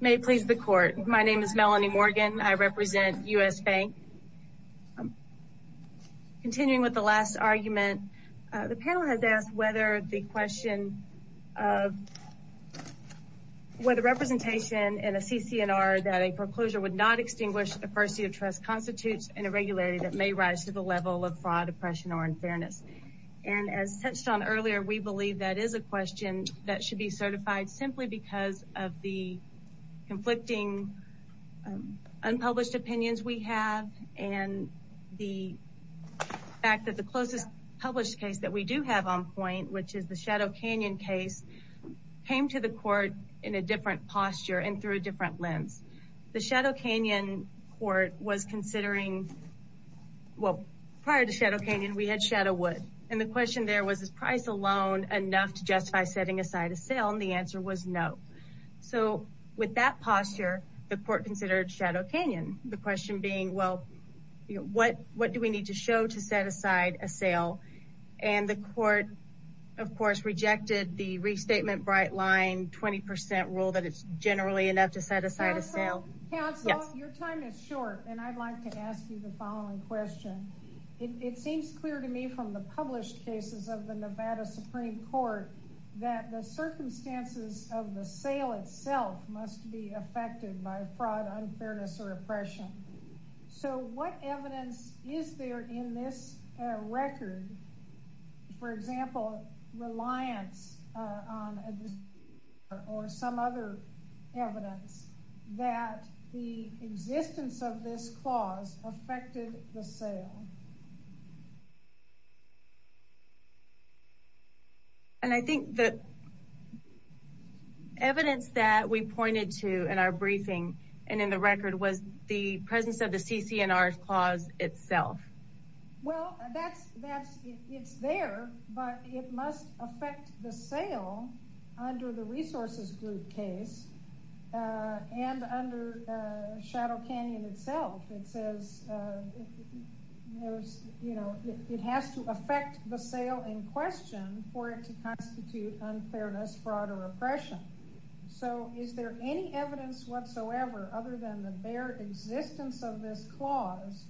May it please the Court. My name is Melanie Morgan. I represent U.S. Bank. Continuing with the last argument, the panel has asked whether the question of whether representation in a CCNR that a foreclosure would not extinguish a first seat of trust constitutes an irregularity that may rise to the level of fraud, oppression, or unfairness. And as touched on earlier, we believe that is a question that should be certified simply because of the conflicting unpublished opinions we have. And the fact that the closest published case that we do have on point, which is the Shadow Canyon case, came to the Court in a different posture and through a different lens. The Shadow Canyon Court was considering, well, prior to Shadow Canyon, we had Shadow Wood. And the question there was, is price alone enough to justify setting aside a sale? And the answer was no. So with that posture, the Court considered Shadow Canyon. The question being, well, what do we need to show to set aside a sale? And the Court, of course, rejected the Restatement Brightline 20% rule that it's generally enough to set aside a sale. Counsel, your time is short, and I'd like to ask you the following question. It seems clear to me from the published cases of the Nevada Supreme Court that the circumstances of the sale itself must be affected by fraud, unfairness, or oppression. So what evidence is there in this record, for example, reliance on a distributor or some other evidence that the existence of this clause affected the sale? And I think the evidence that we pointed to in our briefing and in the record was the presence of the CC&R clause itself. Well, it's there, but it must affect the sale under the Resources Group case and under Shadow Canyon itself. It says it has to affect the sale in question for it to constitute unfairness, fraud, or oppression. So is there any evidence whatsoever, other than the bare existence of this clause,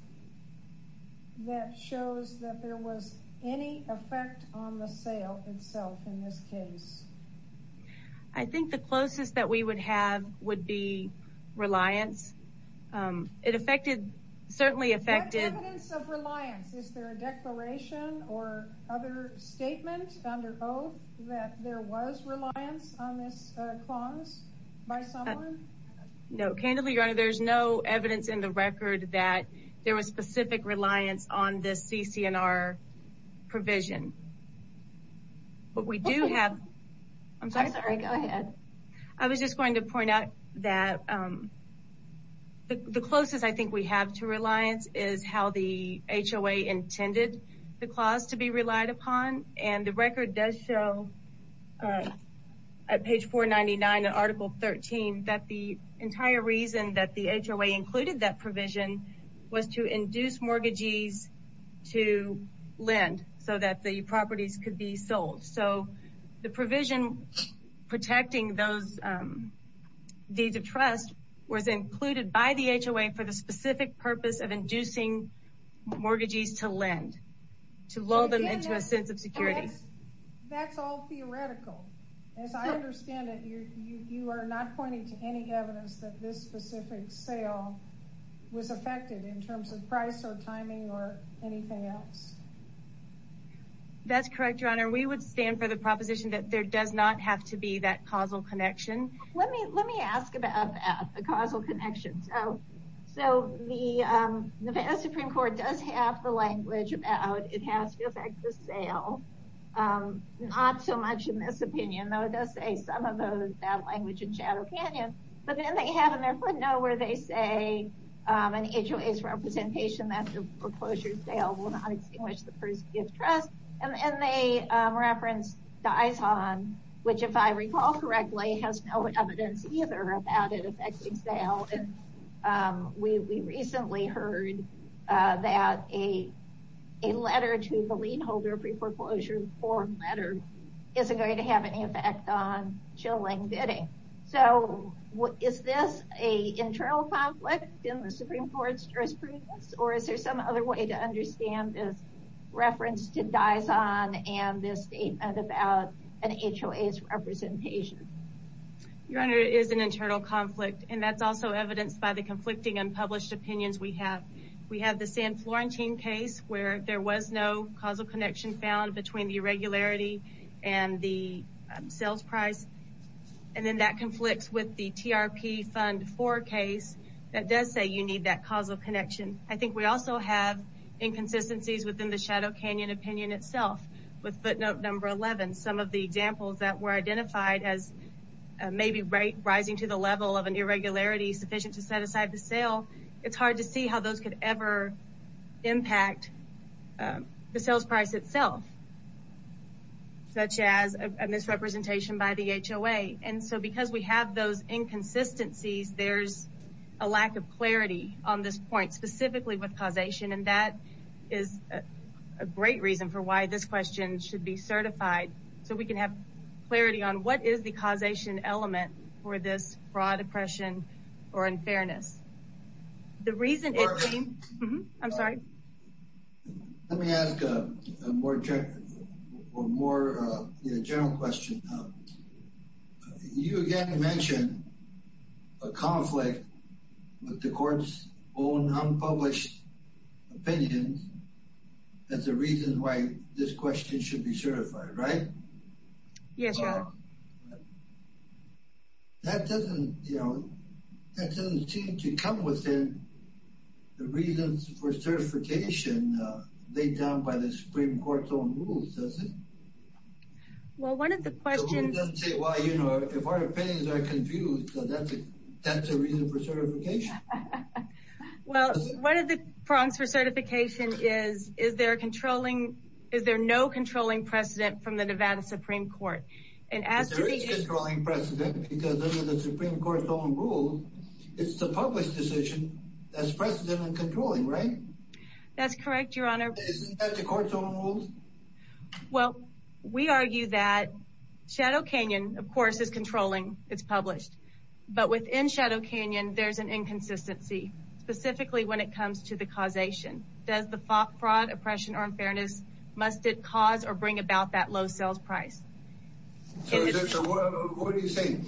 that shows that there was any effect on the sale itself in this case? I think the closest that we would have would be reliance. It affected, certainly affected... What evidence of reliance? Is there a declaration or other statement under oath that there was reliance on this clause by someone? No. Candidly, Your Honor, there's no evidence in the record that there was specific reliance on this CC&R provision. I'm sorry. Go ahead. I was just going to point out that the closest I think we have to reliance is how the HOA intended the clause to be relied upon. And the record does show at page 499 of Article 13 that the entire reason that the HOA included that provision was to induce mortgages to lend so that the properties could be sold. So the provision protecting those deeds of trust was included by the HOA for the specific purpose of inducing mortgages to lend, to lull them into a sense of security. That's all theoretical. As I understand it, you are not pointing to any evidence that this specific sale was affected in terms of price or timing or anything else. That's correct, Your Honor. We would stand for the proposition that there does not have to be that causal connection. Let me ask about that, the causal connection. So the Nevada Supreme Court does have the language about it has to affect the sale. Not so much in this opinion, though it does say some of that language in Shadow Canyon. But then they have in their footnote where they say in HOA's representation that the foreclosure sale will not extinguish the first deed of trust. And they reference Daison, which if I recall correctly has no evidence either about it affecting sale. We recently heard that a letter to the lien holder pre-foreclosure form letter isn't going to have any effect on chilling bidding. So is this an internal conflict in the Supreme Court's jurisprudence or is there some other way to understand this reference to Daison and this statement about an HOA's representation? Your Honor, it is an internal conflict and that's also evidenced by the conflicting unpublished opinions we have. We have the San Florentine case where there was no causal connection found between the irregularity and the sales price. And then that conflicts with the TRP Fund 4 case that does say you need that causal connection. I think we also have inconsistencies within the Shadow Canyon opinion itself with footnote number 11. Some of the examples that were identified as maybe rising to the level of an irregularity sufficient to set aside the sale. It's hard to see how those could ever impact the sales price itself such as a misrepresentation by the HOA. And so because we have those inconsistencies, there's a lack of clarity on this point specifically with causation. And that is a great reason for why this question should be certified so we can have clarity on what is the causation element for this fraud, oppression, or unfairness. I'm sorry. Let me ask a more general question. You again mentioned a conflict with the court's own unpublished opinions as a reason why this question should be certified, right? Yes, Your Honor. That doesn't seem to come within the reasons for certification laid down by the Supreme Court's own rules, does it? Well, one of the questions... If our opinions are confused, that's a reason for certification. Well, one of the problems for certification is, is there no controlling precedent from the Nevada Supreme Court? There is controlling precedent because under the Supreme Court's own rules, it's the published decision that's precedent in controlling, right? That's correct, Your Honor. Isn't that the court's own rules? Well, we argue that Shadow Canyon, of course, is controlling. It's published. But within Shadow Canyon, there's an inconsistency, specifically when it comes to the causation. Does the fraud, oppression, or unfairness, must it cause or bring about that low sales price? So what are you saying?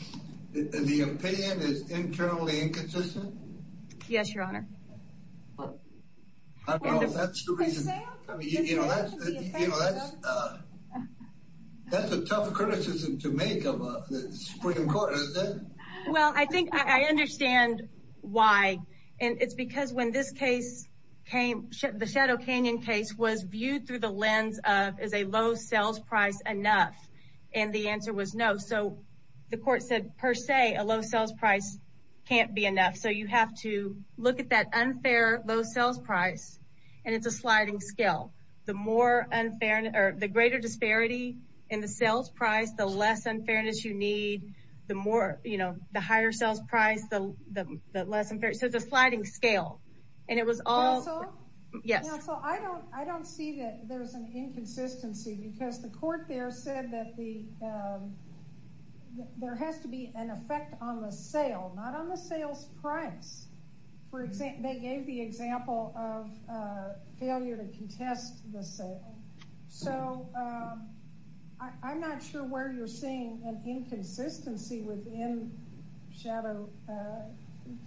The opinion is internally inconsistent? Yes, Your Honor. I don't know. That's the reason. You know, that's a tough criticism to make of the Supreme Court, isn't it? Well, I think I understand why. And it's because when this case came, the Shadow Canyon case, was viewed through the lens of, is a low sales price enough? And the answer was no. So the court said, per se, a low sales price can't be enough. So you have to look at that unfair low sales price, and it's a sliding scale. The greater disparity in the sales price, the less unfairness you need. The higher sales price, the less unfairness. So it's a sliding scale. So I don't see that there's an inconsistency, because the court there said that there has to be an effect on the sale. Not on the sales price. They gave the example of failure to contest the sale. So I'm not sure where you're seeing an inconsistency within Shadow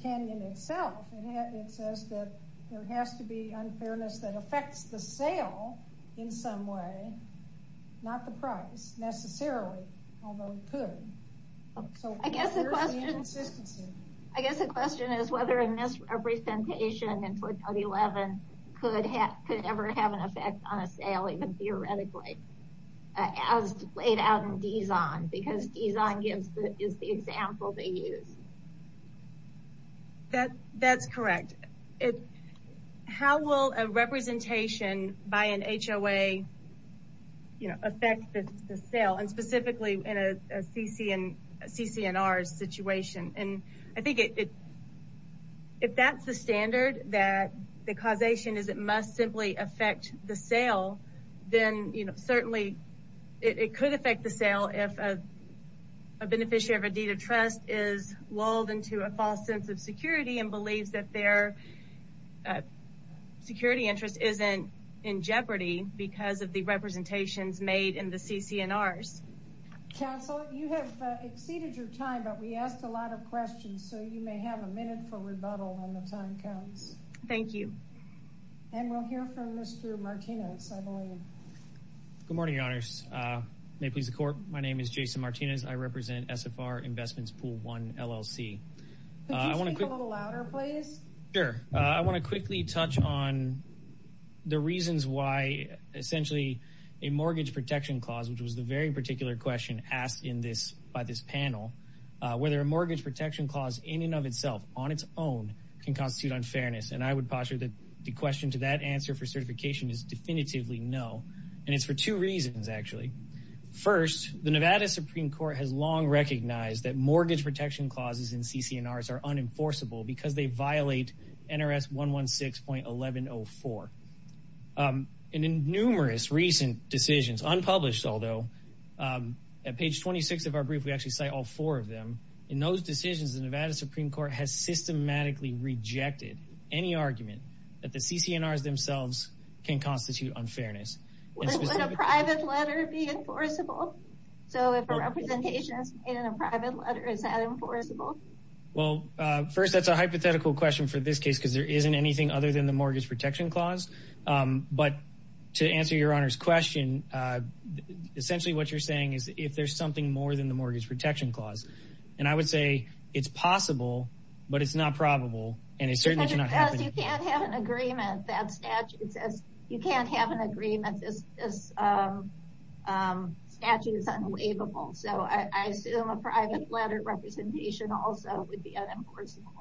Canyon itself. It says that there has to be unfairness that affects the sale in some way. Not the price, necessarily. Although it could. I guess the question is whether a misrepresentation in 2011 could ever have an effect on a sale, even theoretically. As laid out in D-Zone, because D-Zone is the example they use. That's correct. How will a representation by an HOA affect the sale, and specifically in a CCNR's situation? I think if that's the standard, that the causation is it must simply affect the sale, then certainly it could affect the sale if a beneficiary of a deed of trust is lulled into a false sense of security and believes that their security interest isn't in jeopardy because of the representations made in the CCNRs. Counsel, you have exceeded your time, but we asked a lot of questions, so you may have a minute for rebuttal when the time comes. Thank you. We'll hear from Mr. Martinez, I believe. Good morning, Your Honors. May it please the Court, my name is Jason Martinez. I represent SFR Investments Pool 1 LLC. Could you speak a little louder, please? Sure. I want to quickly touch on the reasons why, essentially, a mortgage protection clause, which was the very particular question asked by this panel, whether a mortgage protection clause in and of itself, on its own, can constitute unfairness. And I would posture that the question to that answer for certification is definitively no. And it's for two reasons, actually. First, the Nevada Supreme Court has long recognized that mortgage protection clauses in CCNRs are unenforceable because they violate NRS 116.1104. And in numerous recent decisions, unpublished although, at page 26 of our brief, we actually cite all four of them, in those decisions, the Nevada Supreme Court has systematically rejected any argument that the CCNRs themselves can constitute unfairness. Would a private letter be enforceable? So if a representation is made in a private letter, is that enforceable? Well, first, that's a hypothetical question for this case because there isn't anything other than the mortgage protection clause. But to answer Your Honor's question, essentially what you're saying is if there's something more than the mortgage protection clause. And I would say it's possible, but it's not probable, and it certainly cannot happen. Because you can't have an agreement that statutes as, you can't have an agreement that this statute is unwaivable. So I assume a private letter representation also would be unenforceable.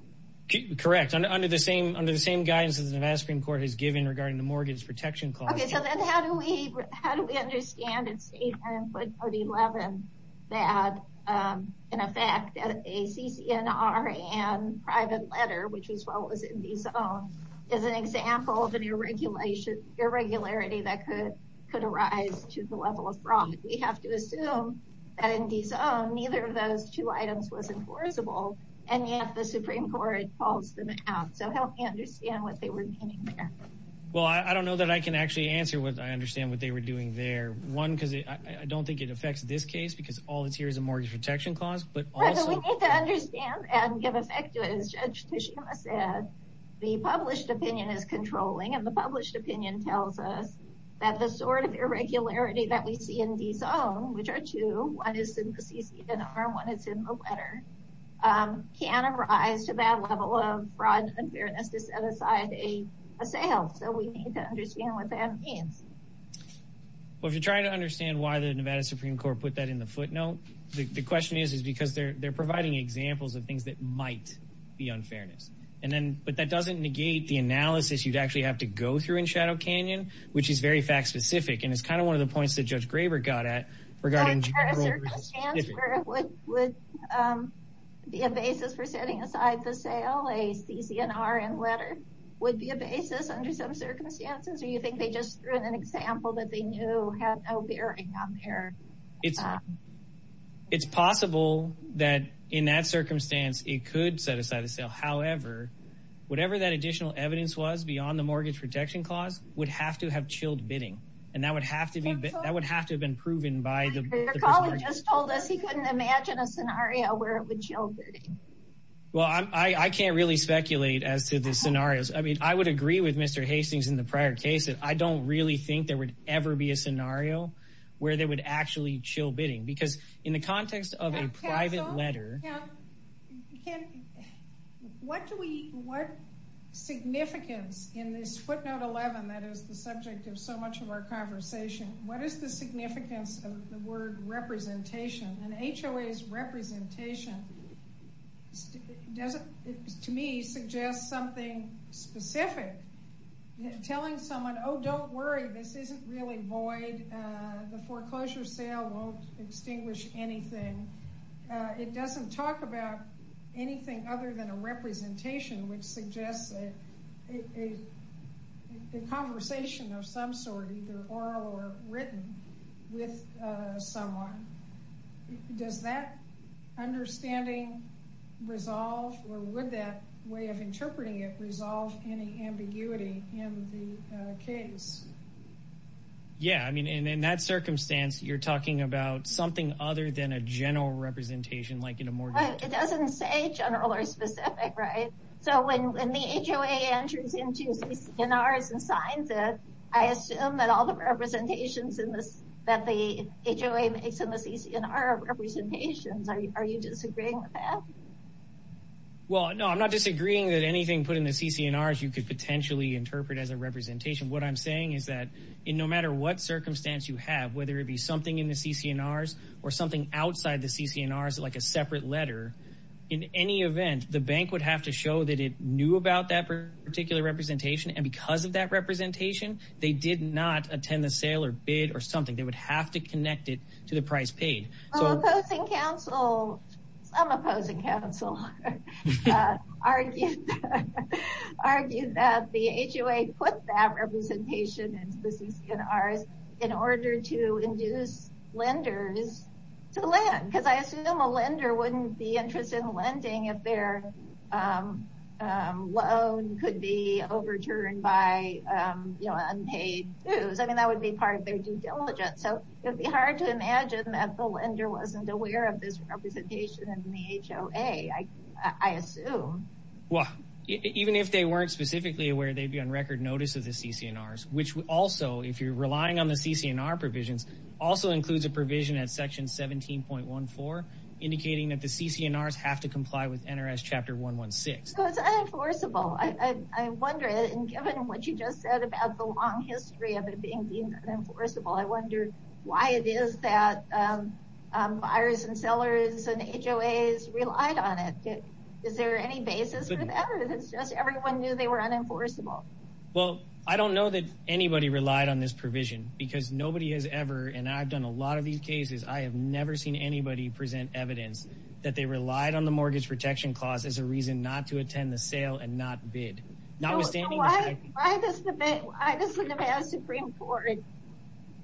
Correct. Under the same guidance that the Nevada Supreme Court has given regarding the mortgage protection clause. Okay, so then how do we understand in Statement 11 that, in effect, a CCNR and private letter, which as well was in the zone, is an example of an irregularity that could arise to the level of fraud? We have to assume that in the zone, neither of those two items was enforceable, and yet the Supreme Court calls them out. So help me understand what they were meaning there. Well, I don't know that I can actually answer what I understand what they were doing there. One, because I don't think it affects this case because all it's here is a mortgage protection clause, but also... We need to understand and give effect to it. As Judge Tishkama said, the published opinion is controlling, and the published opinion tells us that the sort of irregularity that we see in the zone, which are two, one is in the CCNR and one is in the letter, can arise to that level of fraud and unfairness to set aside a sale. So we need to understand what that means. Well, if you're trying to understand why the Nevada Supreme Court put that in the footnote, the question is because they're providing examples of things that might be unfairness. But that doesn't negate the analysis you'd actually have to go through in Shadow Canyon, which is very fact-specific, and it's kind of one of the points that Judge Graber got at regarding... Do you think the transfer would be a basis for setting aside the sale? A CCNR and letter would be a basis under some circumstances, or do you think they just threw in an example that they knew had no bearing on their... It's possible that in that circumstance it could set aside a sale. However, whatever that additional evidence was beyond the mortgage protection clause would have to have chilled bidding, and that would have to have been proven by the... Judge Graber just told us he couldn't imagine a scenario where it would chill bidding. Well, I can't really speculate as to the scenarios. I mean, I would agree with Mr. Hastings in the prior case that I don't really think there would ever be a scenario where they would actually chill bidding because in the context of a private letter... What significance in this footnote 11 that is the subject of so much of our conversation, what is the significance of the word representation? And HOA's representation, to me, suggests something specific. Telling someone, oh, don't worry, this isn't really void. The foreclosure sale won't extinguish anything. It doesn't talk about anything other than a representation, which suggests a conversation of some sort, either oral or written, with someone. Does that understanding resolve or would that way of interpreting it resolve any ambiguity in the case? Yeah, I mean, in that circumstance, you're talking about something other than a general representation like in a mortgage... It doesn't say general or specific, right? So when the HOA enters into CCNRs and signs it, I assume that all the representations that the HOA makes in the CCNR are representations. Are you disagreeing with that? Well, no, I'm not disagreeing that anything put in the CCNRs you could potentially interpret as a representation. What I'm saying is that no matter what circumstance you have, whether it be something in the CCNRs or something outside the CCNRs, like a separate letter, in any event, the bank would have to show that it knew about that particular representation. And because of that representation, they did not attend the sale or bid or something. They would have to connect it to the price paid. Some opposing counsel argued that the HOA put that representation into the CCNRs in order to induce lenders to lend. Because I assume a lender wouldn't be interested in lending if their loan could be overturned by unpaid dues. I mean, that would be part of their due diligence. So it would be hard to imagine that the lender wasn't aware of this representation in the HOA, I assume. Well, even if they weren't specifically aware, they'd be on record notice of the CCNRs, which also, if you're relying on the CCNR provisions, also includes a provision at Section 17.14 indicating that the CCNRs have to comply with NRS Chapter 116. So it's unenforceable. I wonder, given what you just said about the long history of it being unenforceable, I wonder why it is that buyers and sellers and HOAs relied on it. Is there any basis for that? Or is it just everyone knew they were unenforceable? Well, I don't know that anybody relied on this provision because nobody has ever, and I've done a lot of these cases, I have never seen anybody present evidence that they relied on the Mortgage Protection Clause as a reason not to attend the sale and not bid. Why does the Nevada Supreme Court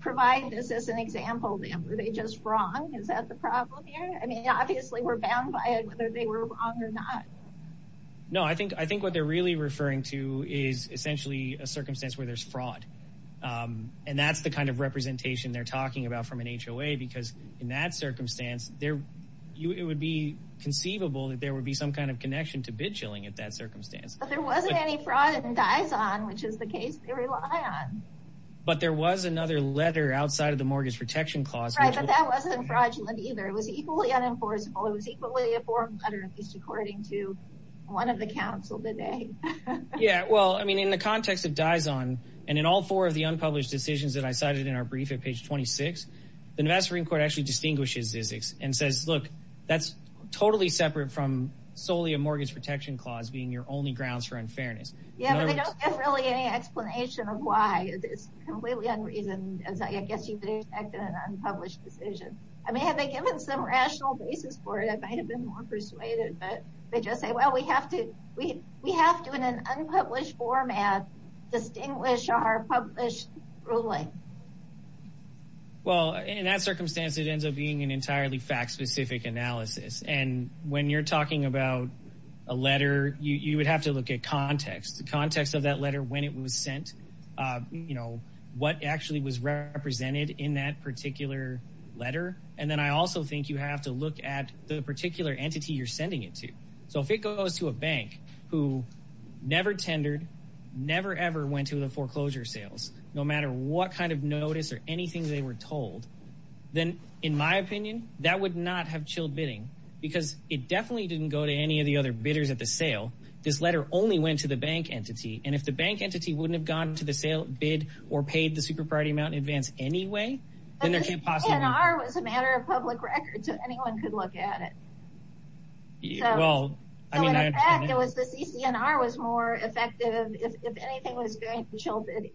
provide this as an example? Were they just wrong? Is that the problem here? I mean, obviously we're bound by it, whether they were wrong or not. No, I think what they're really referring to is essentially a circumstance where there's fraud. And that's the kind of representation they're talking about from an HOA because in that circumstance, it would be conceivable that there would be some kind of connection to bid shilling at that circumstance. But there wasn't any fraud in Dizon, which is the case they rely on. But there was another letter outside of the Mortgage Protection Clause. Right, but that wasn't fraudulent either. It was equally unenforceable. It was equally a form letter, at least according to one of the counsel today. Yeah, well, I mean, in the context of Dizon and in all four of the unpublished decisions that I cited in our brief at page 26, the Nevada Supreme Court actually distinguishes these and says, look, that's totally separate from solely a Mortgage Protection Clause being your only grounds for unfairness. Yeah, but they don't really have any explanation of why it's completely unreasoned. I guess you could expect an unpublished decision. I mean, have they given some rational basis for it? They might have been more persuaded, but they just say, well, we have to we we have to in an unpublished format, distinguish our published ruling. Well, in that circumstance, it ends up being an entirely fact specific analysis. And when you're talking about a letter, you would have to look at context, the context of that letter, when it was sent, you know, what actually was represented in that particular letter. And then I also think you have to look at the particular entity you're sending it to. So if it goes to a bank who never tendered, never, ever went to the foreclosure sales, no matter what kind of notice or anything they were told, then in my opinion, that would not have chilled bidding because it definitely didn't go to any of the other bidders at the sale. This letter only went to the bank entity. And if the bank entity wouldn't have gone to the sale bid or paid the super priority amount in advance anyway, then there was a matter of public record. So anyone could look at it. Well, I mean, it was the CCNR was more effective. If anything was going to children.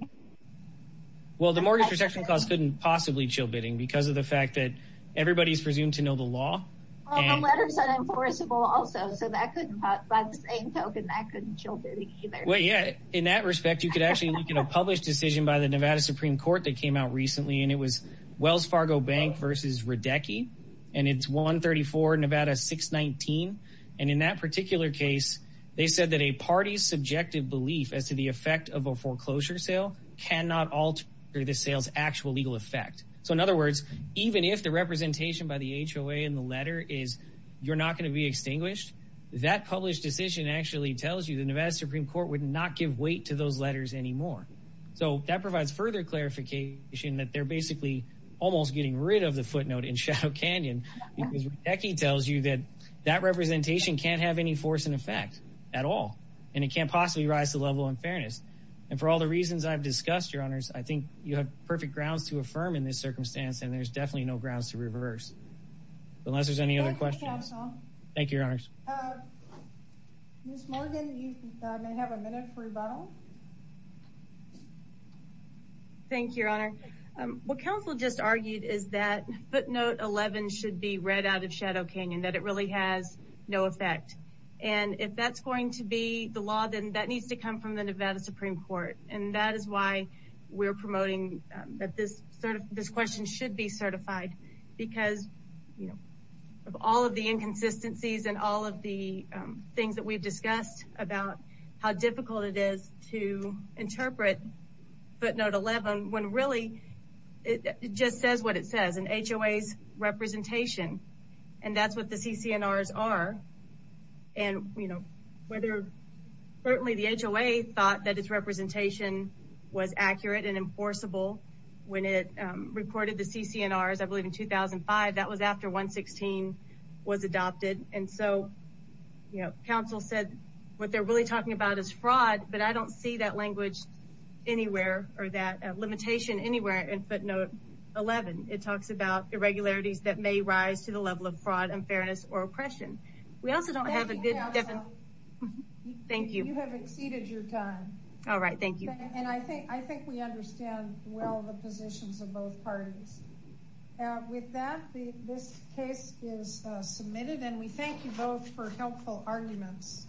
Well, the mortgage protection cost couldn't possibly chill bidding because of the fact that everybody's presumed to know the law. Letters are enforceable also. So that couldn't by the same token that couldn't chill. Well, yeah, in that respect, you could actually get a published decision by the Nevada Supreme Court that came out recently. And it was Wells Fargo Bank versus Radecki. And it's 134 Nevada 619. And in that particular case, they said that a party's subjective belief as to the effect of a foreclosure sale cannot alter the sales actual legal effect. So, in other words, even if the representation by the HOA in the letter is you're not going to be extinguished, that published decision actually tells you the Nevada Supreme Court would not give weight to those letters anymore. So that provides further clarification that they're basically almost getting rid of the footnote in Shadow Canyon. Because Radecki tells you that that representation can't have any force in effect at all. And it can't possibly rise to the level of unfairness. And for all the reasons I've discussed, your honors, I think you have perfect grounds to affirm in this circumstance. And there's definitely no grounds to reverse. Unless there's any other questions. Thank you, your honors. Ms. Morgan, you may have a minute for rebuttal. Thank you, your honor. What counsel just argued is that footnote 11 should be read out of Shadow Canyon, that it really has no effect. And if that's going to be the law, then that needs to come from the Nevada Supreme Court. And that is why we're promoting that this question should be certified. Because of all of the inconsistencies and all of the things that we've discussed about how difficult it is to interpret footnote 11, when really it just says what it says, an HOA's representation. And that's what the CCNRs are. And whether certainly the HOA thought that its representation was accurate and enforceable when it reported the CCNRs, I believe in 2005, that was after 116 was adopted. And so counsel said what they're really talking about is fraud. But I don't see that language anywhere or that limitation anywhere in footnote 11. It talks about irregularities that may rise to the level of fraud, unfairness, or oppression. Thank you, counsel. Thank you. You have exceeded your time. All right, thank you. And I think we understand well the positions of both parties. With that, this case is submitted. And we thank you both for helpful arguments.